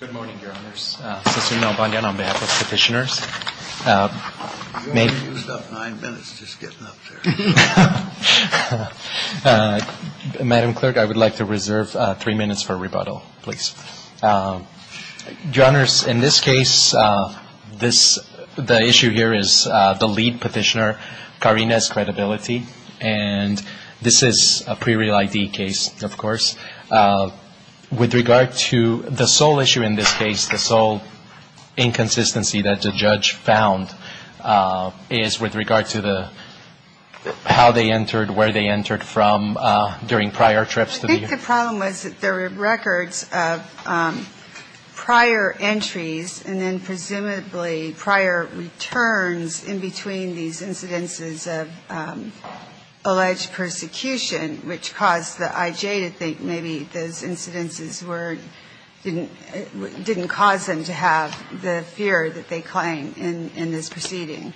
Good morning, Your Honors. Senator Mel Bandian on behalf of Petitioners. You only used up nine minutes just getting up there. Madam Clerk, I would like to reserve three minutes for rebuttal, please. Your Honors, in this case, the issue here is the lead petitioner, Karine's credibility, and this is a pre-real ID case, of course. With regard to the sole issue in this case, the sole inconsistency that the judge found is with regard to the how they entered, where they entered from during prior trips. I think the problem was that there were records of prior entries and then presumably prior returns in between these incidences of alleged persecution, which caused the I.J. to think maybe those incidences didn't cause them to have the fear that they claim in this proceeding.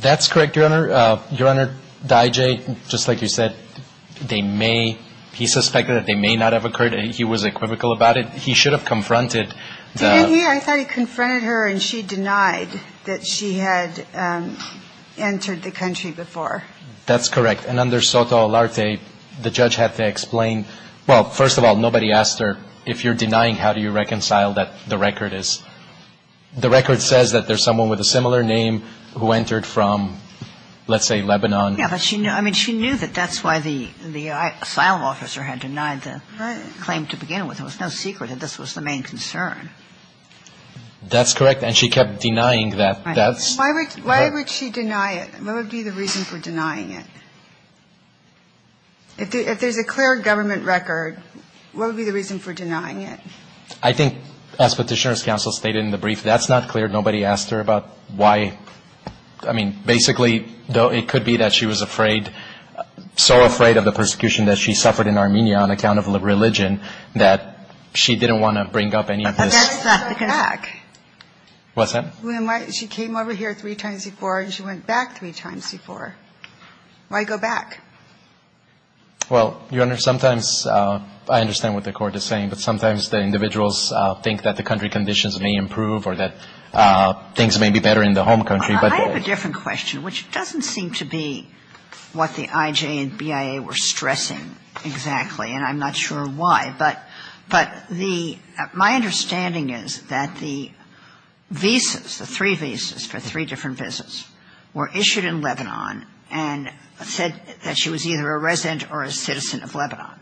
That's correct, Your Honor. Your Honor, the I.J., just like you said, they may, he suspected that they may not have occurred and he was equivocal about it. He should have confronted the — Didn't he? I thought he confronted her and she denied that she had entered the country before. That's correct. And under Soto Alarte, the judge had to explain — well, first of all, nobody asked her, if you're denying, how do you reconcile that the record is — the record says that there's someone with a similar name who entered from, let's say, Lebanon. Yeah, but she knew — I mean, she knew that that's why the asylum officer had denied the claim to begin with. It was no secret that this was the main concern. That's correct. And she kept denying that. Why would she deny it? What would be the reason for denying it? If there's a clear government record, what would be the reason for denying it? I think, as Petitioner's counsel stated in the brief, that's not clear. Nobody asked her about why — I mean, basically, it could be that she was afraid, so afraid of the persecution that she suffered in Armenia on account of religion that she didn't want to bring up any of this. Well, that's not the concern. Why go back? What's that? She came over here three times before, and she went back three times before. Why go back? Well, Your Honor, sometimes — I understand what the Court is saying, but sometimes the individuals think that the country conditions may improve or that things may be better in the home country, but — I have a different question, which doesn't seem to be what the IJ and BIA were stressing exactly, and I'm not sure why. But the — my understanding is that the visas, the three visas for three different visits, were issued in Lebanon and said that she was either a resident or a citizen of Lebanon.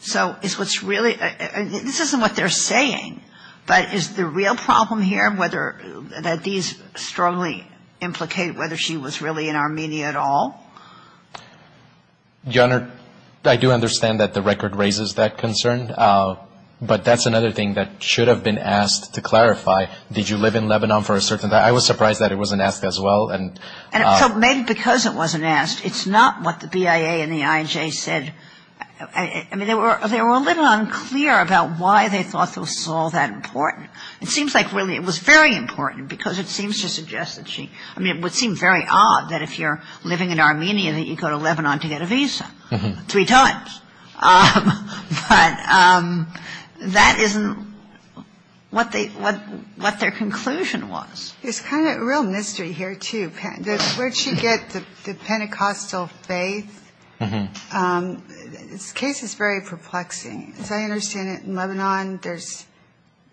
So is what's really — this isn't what they're saying, but is the real problem here whether — that these strongly implicate whether she was really in Armenia at all? Your Honor, I do understand that the record raises that concern, but that's another thing that should have been asked to clarify. Did you live in Lebanon for a certain time? I was surprised that it wasn't asked as well. And so maybe because it wasn't asked, it's not what the BIA and the IJ said — I mean, they were a little unclear about why they thought this was all that important. It seems like really it was very important because it seems to suggest that she — I mean, it would seem very odd that if you're living in Armenia that you go to Lebanon to get a visa three times. But that isn't what their conclusion was. There's kind of a real mystery here, too. Where did she get the Pentecostal faith? This case is very perplexing. As I understand it, in Lebanon there's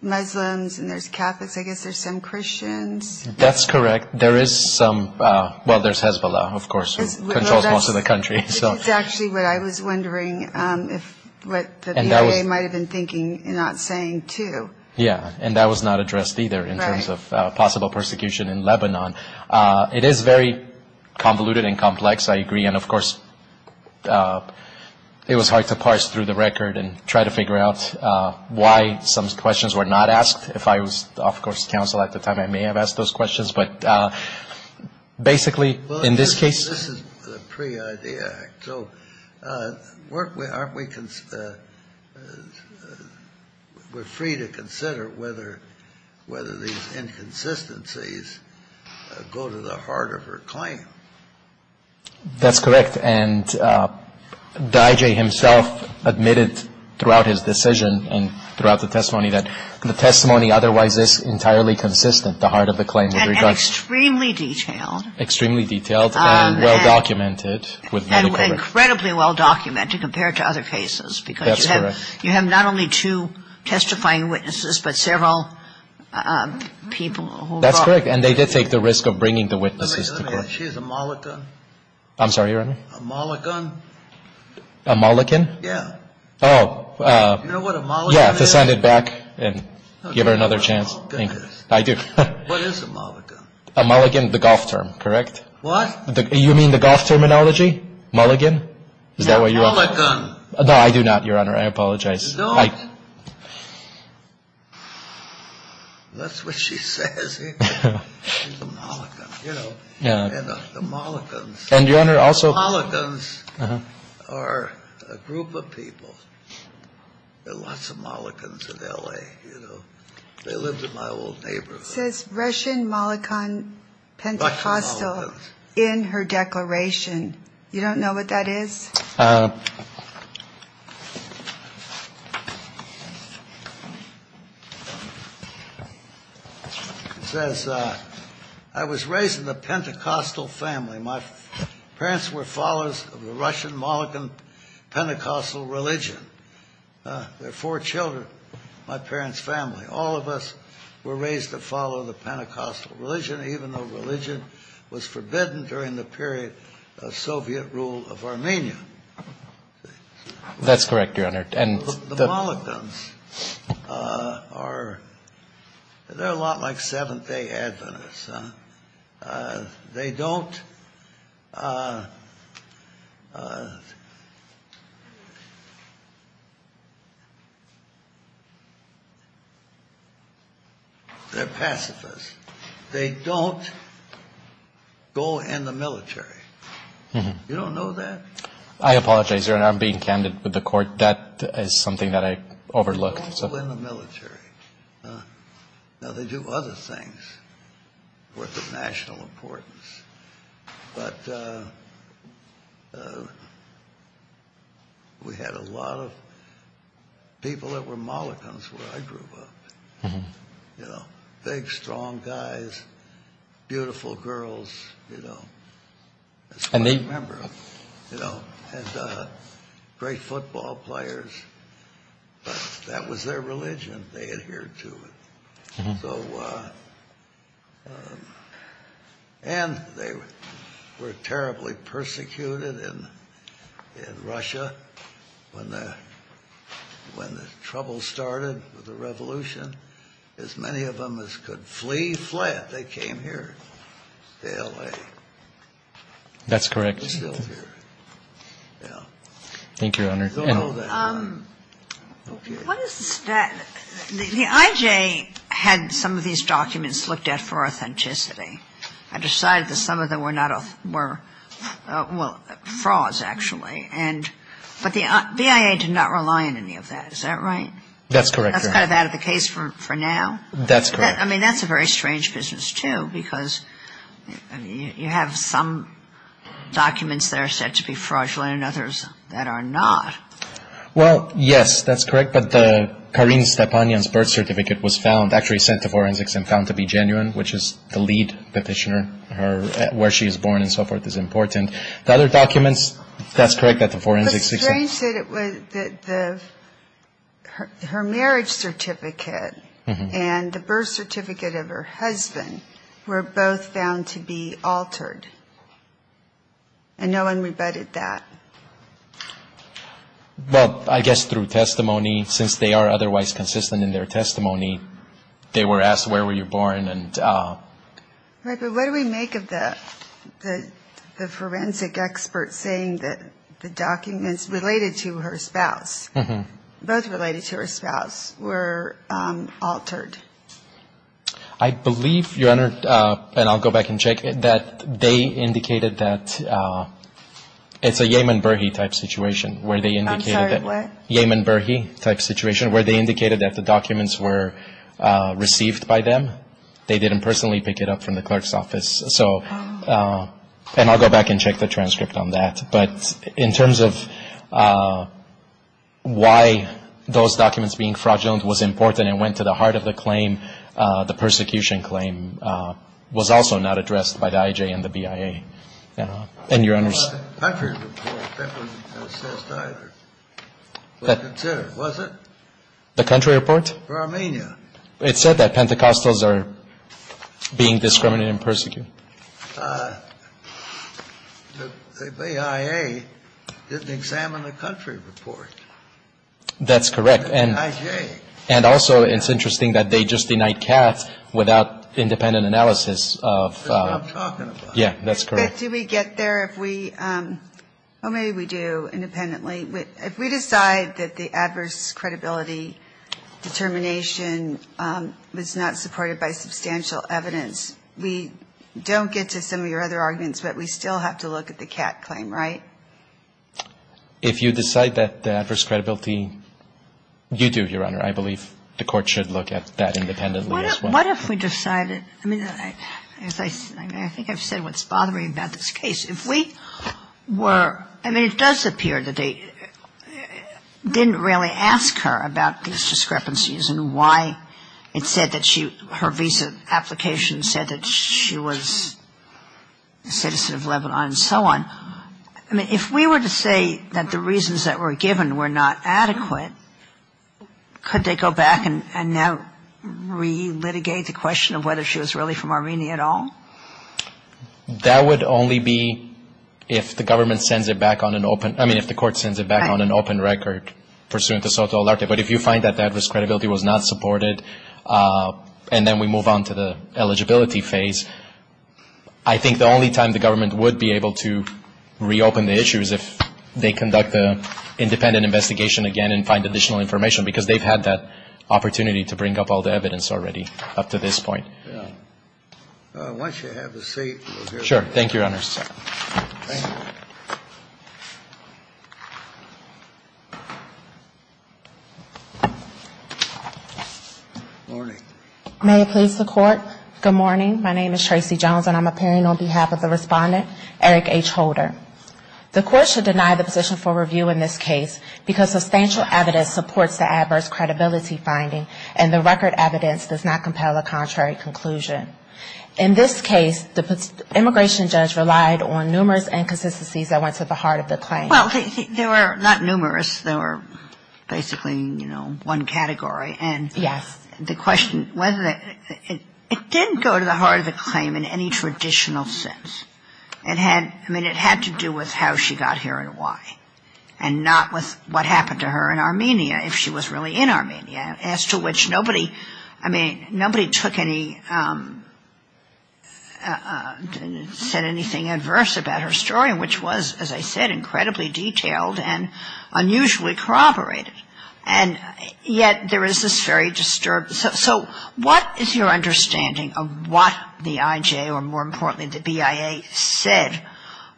Muslims and there's Catholics. I guess there's some Christians. That's correct. There is some — well, there's Hezbollah, of course, who controls most of the country. It's actually what I was wondering if what the BIA might have been thinking in not saying, too. Yeah, and that was not addressed either in terms of possible persecution in Lebanon. It is very convoluted and complex, I agree. And, of course, it was hard to parse through the record and try to figure out why some questions were not asked. If I was off-course counsel at the time, I may have asked those questions. But basically, in this case — Well, this is the pre-IDEA Act. So we're free to consider whether these inconsistencies go to the heart of her claim. That's correct. And the IJ himself admitted throughout his decision and throughout the testimony that the testimony otherwise is entirely consistent, the heart of the claim. And extremely detailed. Extremely detailed and well-documented. And incredibly well-documented compared to other cases. That's correct. Because you have not only two testifying witnesses, but several people who brought — That's correct. And they did take the risk of bringing the witnesses to court. Wait a minute. She's a Molaghan? I'm sorry, Your Honor? A Molaghan? A Molaghan? Yeah. Oh. You know what a Molaghan is? Yeah, to send it back and give her another chance. Oh, goodness. I do. What is a Molaghan? A Molaghan, the golf term. Correct? What? You mean the golf terminology? Molaghan? Is that what you — A Molaghan. No, I do not, Your Honor. I apologize. No, I — That's what she says, isn't it? She's a Molaghan, you know. Yeah. And the Molaghans — And, Your Honor, also — There are lots of Molaghans in L.A., you know. They lived in my old neighborhood. It says Russian Molaghan Pentecostal in her declaration. You don't know what that is? It says, I was raised in a Pentecostal family. My parents were followers of the Russian Molaghan Pentecostal religion. There are four children in my parents' family. All of us were raised to follow the Pentecostal religion, even though religion was forbidden during the period of Soviet rule of Armenia. That's correct, Your Honor. The Molaghans are — they're a lot like Seventh-day Adventists. They don't — they're pacifists. They don't go in the military. You don't know that? I apologize, Your Honor. I'm being candid with the Court. That is something that I overlooked. They don't go in the military. Now, they do other things worth of national importance. But we had a lot of people that were Molaghans where I grew up. You know, big, strong guys, beautiful girls, you know. That's one I remember. And great football players. But that was their religion. They adhered to it. So — and they were terribly persecuted in Russia when the trouble started with the revolution. As many of them as could flee, fled. They came here to L.A. That's correct. They're still here. Yeah. Thank you, Your Honor. What is the — the I.J. had some of these documents looked at for authenticity. I decided that some of them were not — were, well, frauds, actually. And — but the BIA did not rely on any of that. Is that right? That's correct, Your Honor. That's kind of out of the case for now? That's correct. I mean, that's a very strange business, too, because you have some documents that are said to be fraudulent and others that are not. Well, yes, that's correct. But the — Karine Stepanian's birth certificate was found — actually sent to forensics and found to be genuine, which is the lead petitioner. Where she was born and so forth is important. The other documents, that's correct, that the forensics — Her marriage certificate and the birth certificate of her husband were both found to be altered. And no one rebutted that. Well, I guess through testimony, since they are otherwise consistent in their testimony, they were asked where were you born and — Right, but what do we make of the forensic expert saying that the documents related to her spouse, both related to her spouse, were altered? I believe, Your Honor, and I'll go back and check, that they indicated that — it's a Yehman Berhe-type situation where they indicated that — I'm sorry, what? Yehman Berhe-type situation where they indicated that the documents were received by them. They didn't personally pick it up from the clerk's office. So — and I'll go back and check the transcript on that. But in terms of why those documents being fraudulent was important and went to the heart of the claim, the persecution claim was also not addressed by the IJ and the BIA. And, Your Honor — The country report that was assessed either was considered, was it? The country report? For Armenia. It said that Pentecostals are being discriminated and persecuted. The BIA didn't examine the country report. That's correct. And the IJ. And also it's interesting that they just denied Katz without independent analysis of — That's what I'm talking about. Yeah, that's correct. But do we get there if we — oh, maybe we do, independently. If we decide that the adverse credibility determination was not supported by substantial evidence, we don't get to some of your other arguments, but we still have to look at the Katz claim, right? If you decide that the adverse credibility — you do, Your Honor. I believe the Court should look at that independently as well. What if we decided — I mean, as I — I mean, I think I've said what's bothering about this case. If we were — I mean, it does appear that they didn't really ask her about these discrepancies and why it said that she — her visa application said that she was a citizen of Lebanon and so on. I mean, if we were to say that the reasons that were given were not adequate, could they go back and now relitigate the question of whether she was really from Armenia at all? That would only be if the government sends it back on an open — I mean, if the Court sends it back on an open record pursuant to soto alerte. But if you find that the adverse credibility was not supported and then we move on to the eligibility phase, I think the only time the government would be able to reopen the issue is if they conduct an independent investigation again and find additional information, because they've had that opportunity to bring up all the evidence already up to this point. Yeah. Once you have a seat, we'll hear from you. Thank you, Your Honors. Thank you. Morning. May it please the Court. Good morning. My name is Tracy Jones, and I'm appearing on behalf of the Respondent, Eric H. Holder. The Court should deny the position for review in this case because substantial evidence supports the adverse credibility finding, and the record evidence does not compel a contrary conclusion. In this case, the immigration judge relied on numerous inconsistencies that went to the heart of the claim. Well, they were not numerous. They were basically, you know, one category. Yes. And the question — it didn't go to the heart of the claim in any traditional sense. It had — I mean, it had to do with how she got here and why, and not with what happened to her in Armenia, if she was really in Armenia, as to which nobody — I mean, nobody took any — said anything adverse about her story, which was, as I said, incredibly detailed and unusually corroborated. And yet there is this very disturbed — so what is your understanding of what the IJ, or more importantly, the BIA, said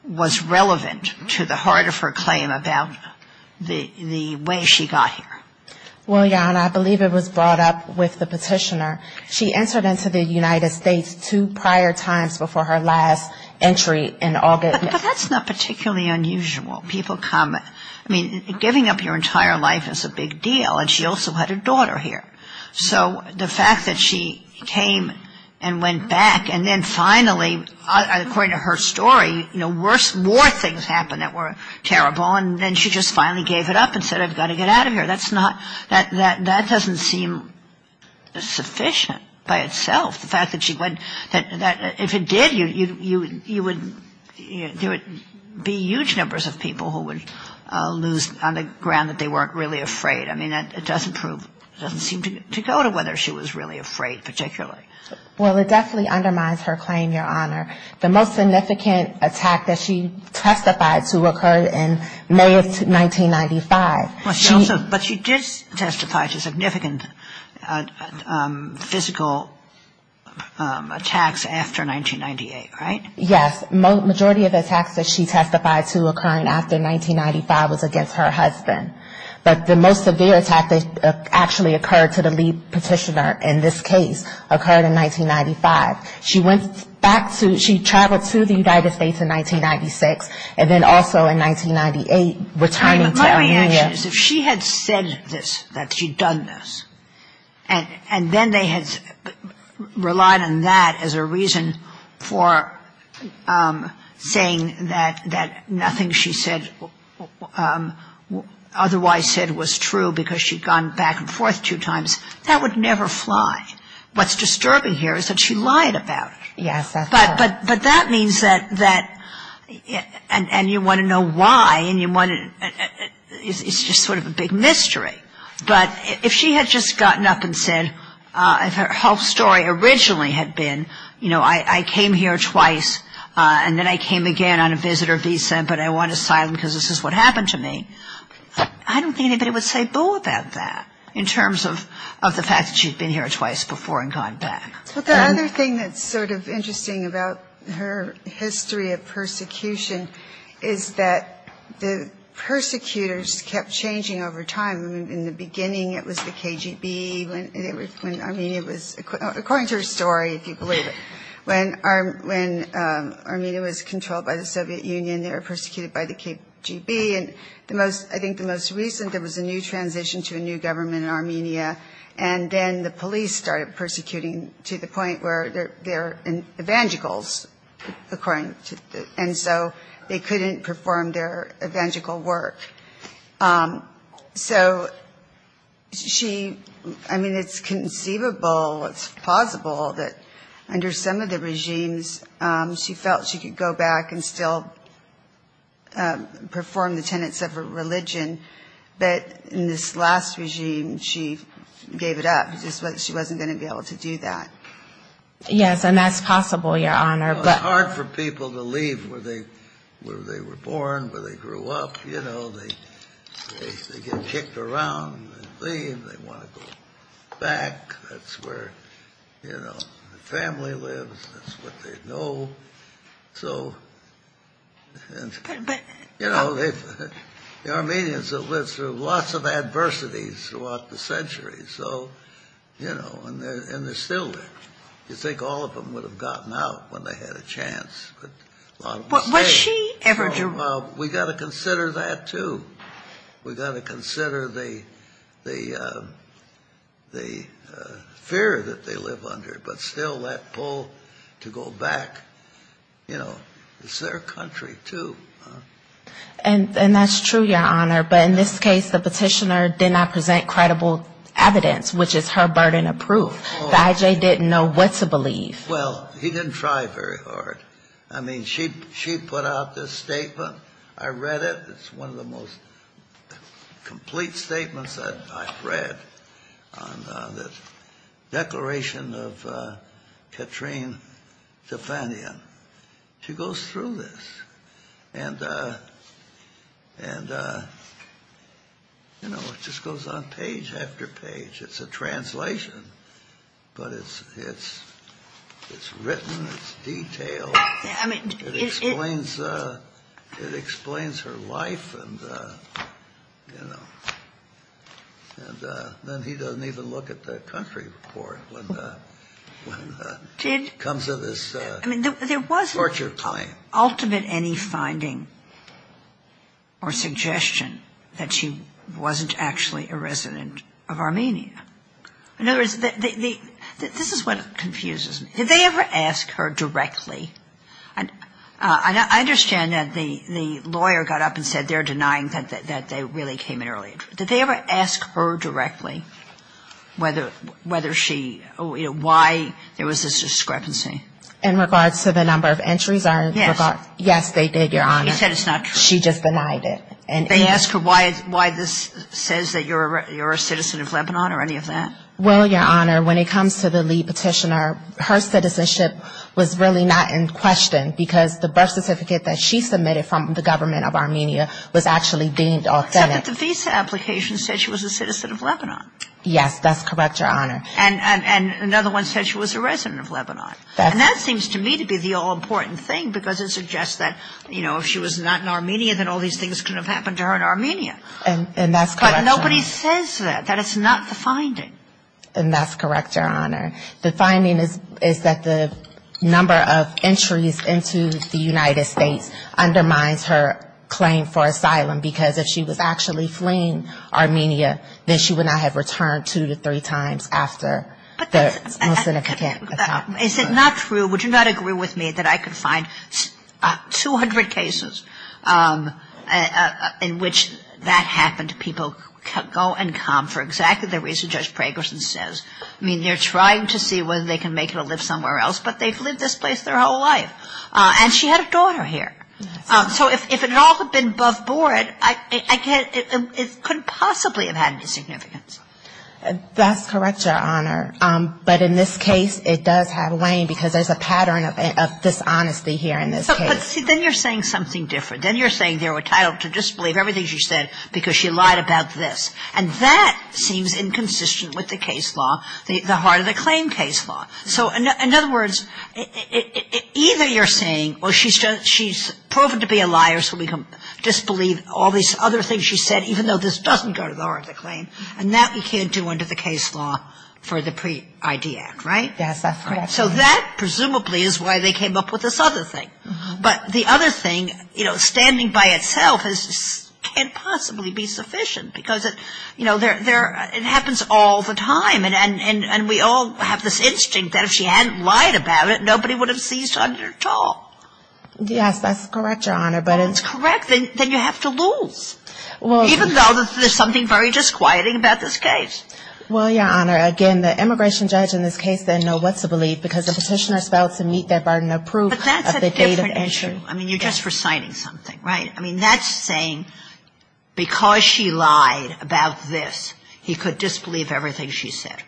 was relevant to the heart of her claim about the way she got here? Well, Your Honor, I believe it was brought up with the petitioner. She entered into the United States two prior times before her last entry in August. But that's not particularly unusual. People come — I mean, giving up your entire life is a big deal, and she also had a daughter here. So the fact that she came and went back, and then finally, according to her story, you know, worse — more things happened that were terrible, and then she just finally gave it up and said, I've got to get out of here. That's not — that doesn't seem sufficient by itself. The fact that she went — that if it did, you would — there would be huge numbers of people who would lose on the ground that they weren't really afraid. I mean, that doesn't prove — doesn't seem to go to whether she was really afraid particularly. Well, it definitely undermines her claim, Your Honor. The most significant attack that she testified to occurred in May of 1995. Well, she also — but she did testify to significant physical attacks after 1998, right? Yes. Majority of attacks that she testified to occurring after 1995 was against her husband. But the most severe attack that actually occurred to the lead petitioner in this case occurred in 1995. She went back to — she traveled to the United States in 1996, and then also in 1998, returning to Armenia. My only answer is, if she had said this, that she'd done this, and then they had relied on that as a reason for saying that nothing she said was wrong, otherwise said was true because she'd gone back and forth two times, that would never fly. What's disturbing here is that she lied about it. Yes, that's true. But that means that — and you want to know why, and you want to — it's just sort of a big mystery. But if she had just gotten up and said — if her whole story originally had been, you know, I came here twice, and then I came again on a visitor visa, but I want asylum because this is what happened to me, I don't think anybody would say boo about that in terms of the fact that she'd been here twice before and gone back. But the other thing that's sort of interesting about her history of persecution is that the persecutors kept changing over time. In the beginning, it was the KGB. When Armenia was — according to her story, if you believe it, when Armenia was controlled by the Soviet Union, they were persecuted by the KGB. And I think the most recent, there was a new transition to a new government in Armenia, and then the police started persecuting to the point where they're evangelicals, and so they couldn't perform their evangelical work. So she — I mean, it's conceivable, it's possible that under some of the regimes, she felt she could go back and still perform the tenets of her religion, but in this last regime, she gave it up. She wasn't going to be able to do that. Yes, and that's possible, Your Honor, but — Well, it's hard for people to leave where they were born, where they grew up, you know. They get kicked around and leave. They want to go back. That's where, you know, the family lives. That's what they know. You know, the Armenians have lived through lots of adversities throughout the centuries, so, you know, and they're still there. You'd think all of them would have gotten out when they had a chance, but a lot of them stayed. Well, we've got to consider that, too. We've got to consider the fear that they live under, but still that pull to go back, you know, it's their country, too. And that's true, Your Honor, but in this case, the petitioner did not present credible evidence, which is her burden of proof. The IJ didn't know what to believe. Well, he didn't try very hard. I mean, she put out this statement. I read it. It's one of the most complete statements that I've read on the Declaration of Katrine Defanian. She goes through this, and, you know, it just goes on page after page. It's a translation, but it's written. It's detailed. It explains her life, and, you know. And then he doesn't even look at the country report when it comes to this torture claim. I mean, there wasn't ultimately any finding or suggestion that she wasn't actually a resident of Armenia. In other words, this is what confuses me. Did they ever ask her directly? I understand that the lawyer got up and said they're denying that they really came in early. Did they ever ask her directly whether she, you know, why there was this discrepancy? In regards to the number of entries? Yes, they did, Your Honor. She just denied it. They asked her why this says that you're a citizen of Lebanon or any of that? Well, Your Honor, when it comes to the lead petitioner, her citizenship was really not in question because the birth certificate that she submitted from the government of Armenia was actually deemed authentic. Except that the visa application said she was a citizen of Lebanon. Yes, that's correct, Your Honor. And another one said she was a resident of Lebanon. And that seems to me to be the all-important thing because it suggests that, you know, if she was not in Armenia, then all these things couldn't have happened to her in Armenia. And that's correct, Your Honor. But nobody says that, that it's not the finding. And that's correct, Your Honor. The finding is that the number of entries into the United States undermines her claim for asylum because if she was actually fleeing Armenia, then she would not have returned two to three times after. But is it not true, would you not agree with me that I could find 200 cases in which that happened, people go and come for exactly the reason Judge Pragerson says. I mean, they're trying to see whether they can make it or live somewhere else, but they've lived this place their whole life. And she had a daughter here. So if it all had been above board, it couldn't possibly have had any significance. That's correct, Your Honor. But in this case, it does have a weighing because there's a pattern of dishonesty here in this case. But see, then you're saying something different. Then you're saying they were entitled to disbelieve everything she said because she lied about this. And that seems inconsistent with the case law, the heart of the claim case law. So in other words, either you're saying, well, she's proven to be a liar, so we can disbelieve all these other things she said, even though this doesn't go to the heart of the claim. And that we can't do under the case law for the pre-ID Act, right? So that presumably is why they came up with this other thing. But the other thing, you know, standing by itself can't possibly be sufficient because, you know, it happens all the time. And we all have this instinct that if she hadn't lied about it, nobody would have seized on it at all. Yes, that's correct, Your Honor. But it's correct. Then you have to lose, even though there's something very disquieting about this case. Well, Your Honor, again, the immigration judge in this case didn't know what to believe because the Petitioner spelled to meet their burden of proof of the date of entry. But that's a different issue. I mean, you're just reciting something, right? I mean, that's saying because she lied about this, he could disbelieve everything she said.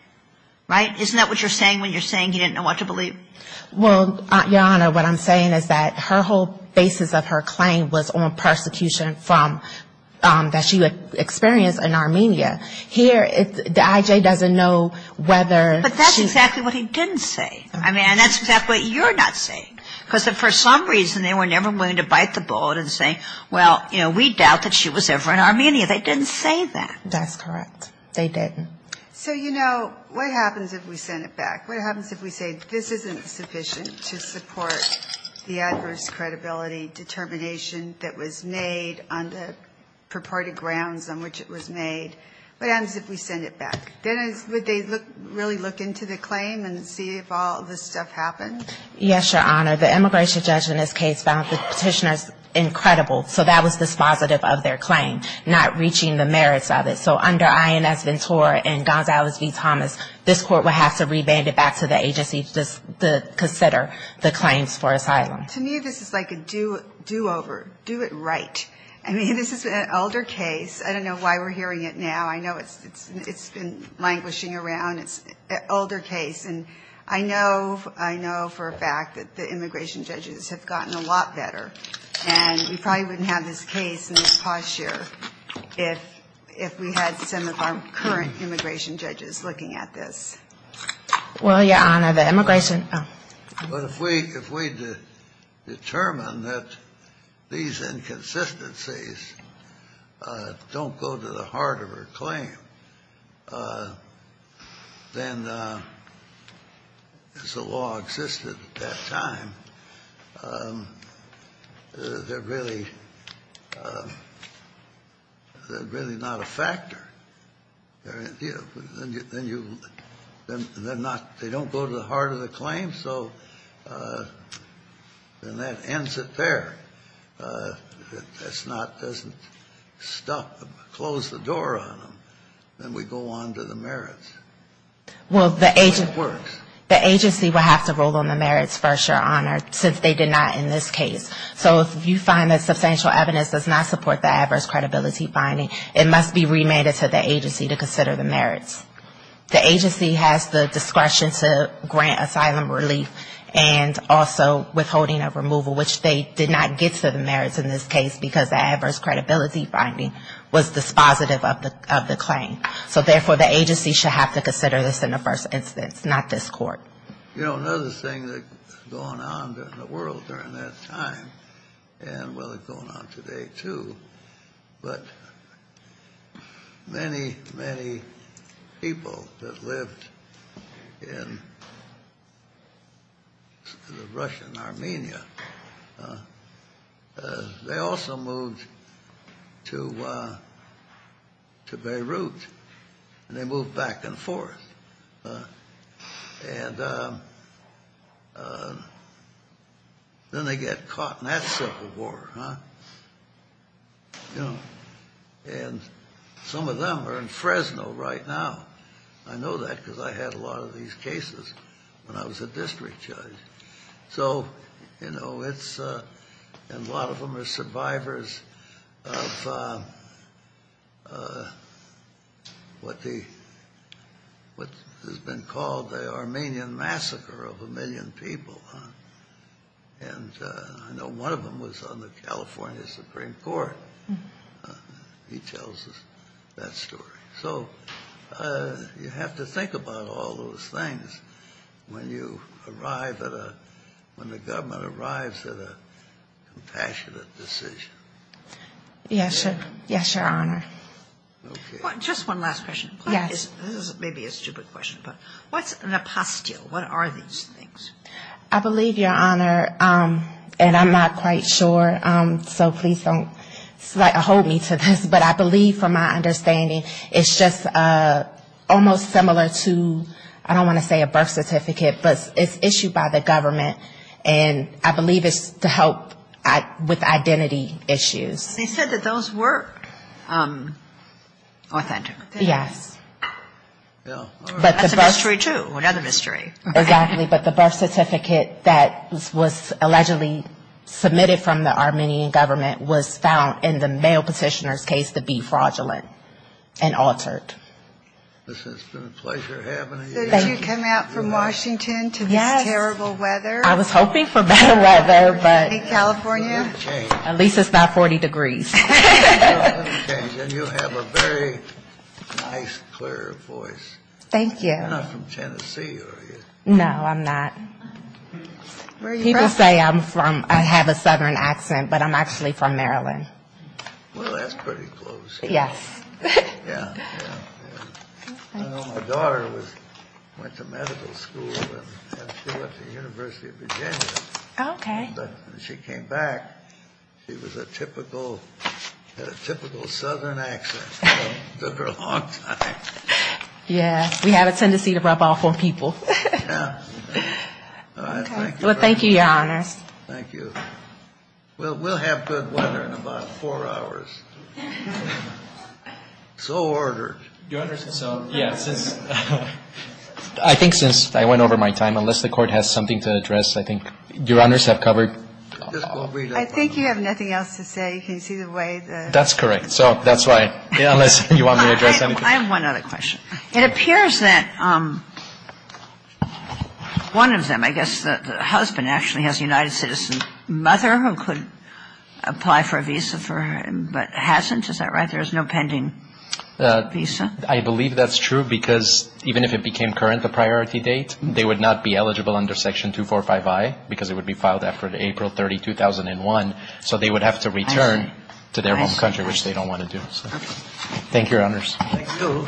Right? Isn't that what you're saying when you're saying he didn't know what to believe? Well, Your Honor, what I'm saying is that her whole basis of her claim was on persecution from that she experienced in Armenia. Here, the I.J. doesn't know whether she's --. But that's exactly what he didn't say. I mean, that's exactly what you're not saying. Because for some reason they were never willing to bite the bullet and say, well, you know, we doubt that she was ever in Armenia. They didn't say that. That's correct. They didn't. So, you know, what happens if we send it back? What happens if we say this isn't sufficient to support the adverse credibility determination that was made on the purported grounds on which it was made? What happens if we send it back? Then would they really look into the claim and see if all this stuff happened? Yes, Your Honor. The immigration judge in this case found the Petitioner's incredible. So that was dispositive of their claim, not reaching the merits of it. So under I.N.S. Ventura and Gonzalez v. Thomas, this court would have to reband it back to the agency to consider the claims for asylum. To me, this is like a do-over. Do it right. I mean, this is an older case. I don't know why we're hearing it now. I know it's been languishing around. It's an older case. And I know for a fact that the immigration judges have gotten a lot better. And we probably wouldn't have this case in the past year if we had some of our current immigration judges looking at this. Well, Your Honor, the immigration – But if we determine that these inconsistencies don't go to the heart of her claim, then as the law existed at that time, they're really – they're really not a factor. Then you – they're not – they don't go to the heart of the claim. So then that ends it there. That's not – doesn't stop them, close the door on them. Then we go on to the merits. Well, the agency would have to rule on the merits first, Your Honor, since they did not in this case. So if you find that substantial evidence does not support the adverse credibility finding, it must be remanded to the agency to consider the merits. The agency has the discretion to grant asylum relief and also withholding of removal, which they did not get to the merits in this case because the adverse credibility finding was dispositive of the claim. So therefore, the agency should have to consider this in the first instance, not this Court. You know, another thing that's going on in the world during that time, and, well, it's going on today too, but many, many people that lived in the Russian Armenia, they also moved to Beirut, and they moved back and forth. And then they get caught in that circle of war, and some of them are in Fresno right now. I know that because I had a lot of these cases when I was a district judge. So, you know, it's – and a lot of them are survivors of what the – what has been called the Armenian massacre of a million people. And I know one of them was on the California Supreme Court. He tells us that story. So you have to think about all those things when you arrive at a – when the government arrives at a compassionate decision. Yes, Your Honor. Okay. Just one last question. Yes. This may be a stupid question, but what's an apostille? What are these things? I believe, Your Honor, and I'm not quite sure, so please don't hold me to this, but I believe, from my understanding, it's just almost similar to, I don't want to say a birth certificate, but it's issued by the government. And I believe it's to help with identity issues. They said that those were authentic. Yes. That's a mystery, too, another mystery. Exactly, but the birth certificate that was allegedly submitted from the Armenian government was found in the male petitioner's case to be fraudulent and altered. This has been a pleasure having you here. Thank you. So did you come out from Washington to this terrible weather? I was hoping for better weather, but at least it's not 40 degrees. And you have a very nice, clear voice. Thank you. You're not from Tennessee, are you? No, I'm not. Where are you from? People say I'm from, I have a southern accent, but I'm actually from Maryland. Well, that's pretty close. Yes. Yeah, yeah, yeah. I know my daughter was, went to medical school, and she went to the University of Virginia. Okay. But when she came back, she was a typical, had a typical southern accent for a long time. Yeah, we have a tendency to rub off on people. Yeah. Well, thank you, Your Honors. Thank you. Well, we'll have good weather in about four hours. So ordered. Your Honors, so, yeah, since, I think since I went over my time, unless the Court has something to address, I think Your Honors have covered. I think you have nothing else to say. You can see the way the... That's correct. So that's why, unless you want me to address anything. I have one other question. It appears that one of them, I guess the husband actually has a United Citizens mother who could apply for a visa for her, but hasn't. Is that right? There is no pending visa. I believe that's true, because even if it became current, the priority date, they would not be eligible under Section 245i, because it would be filed after April 30, 2001. So they would have to return to their home country, which they don't want to do. Okay. Thank you, Your Honors. Thank you.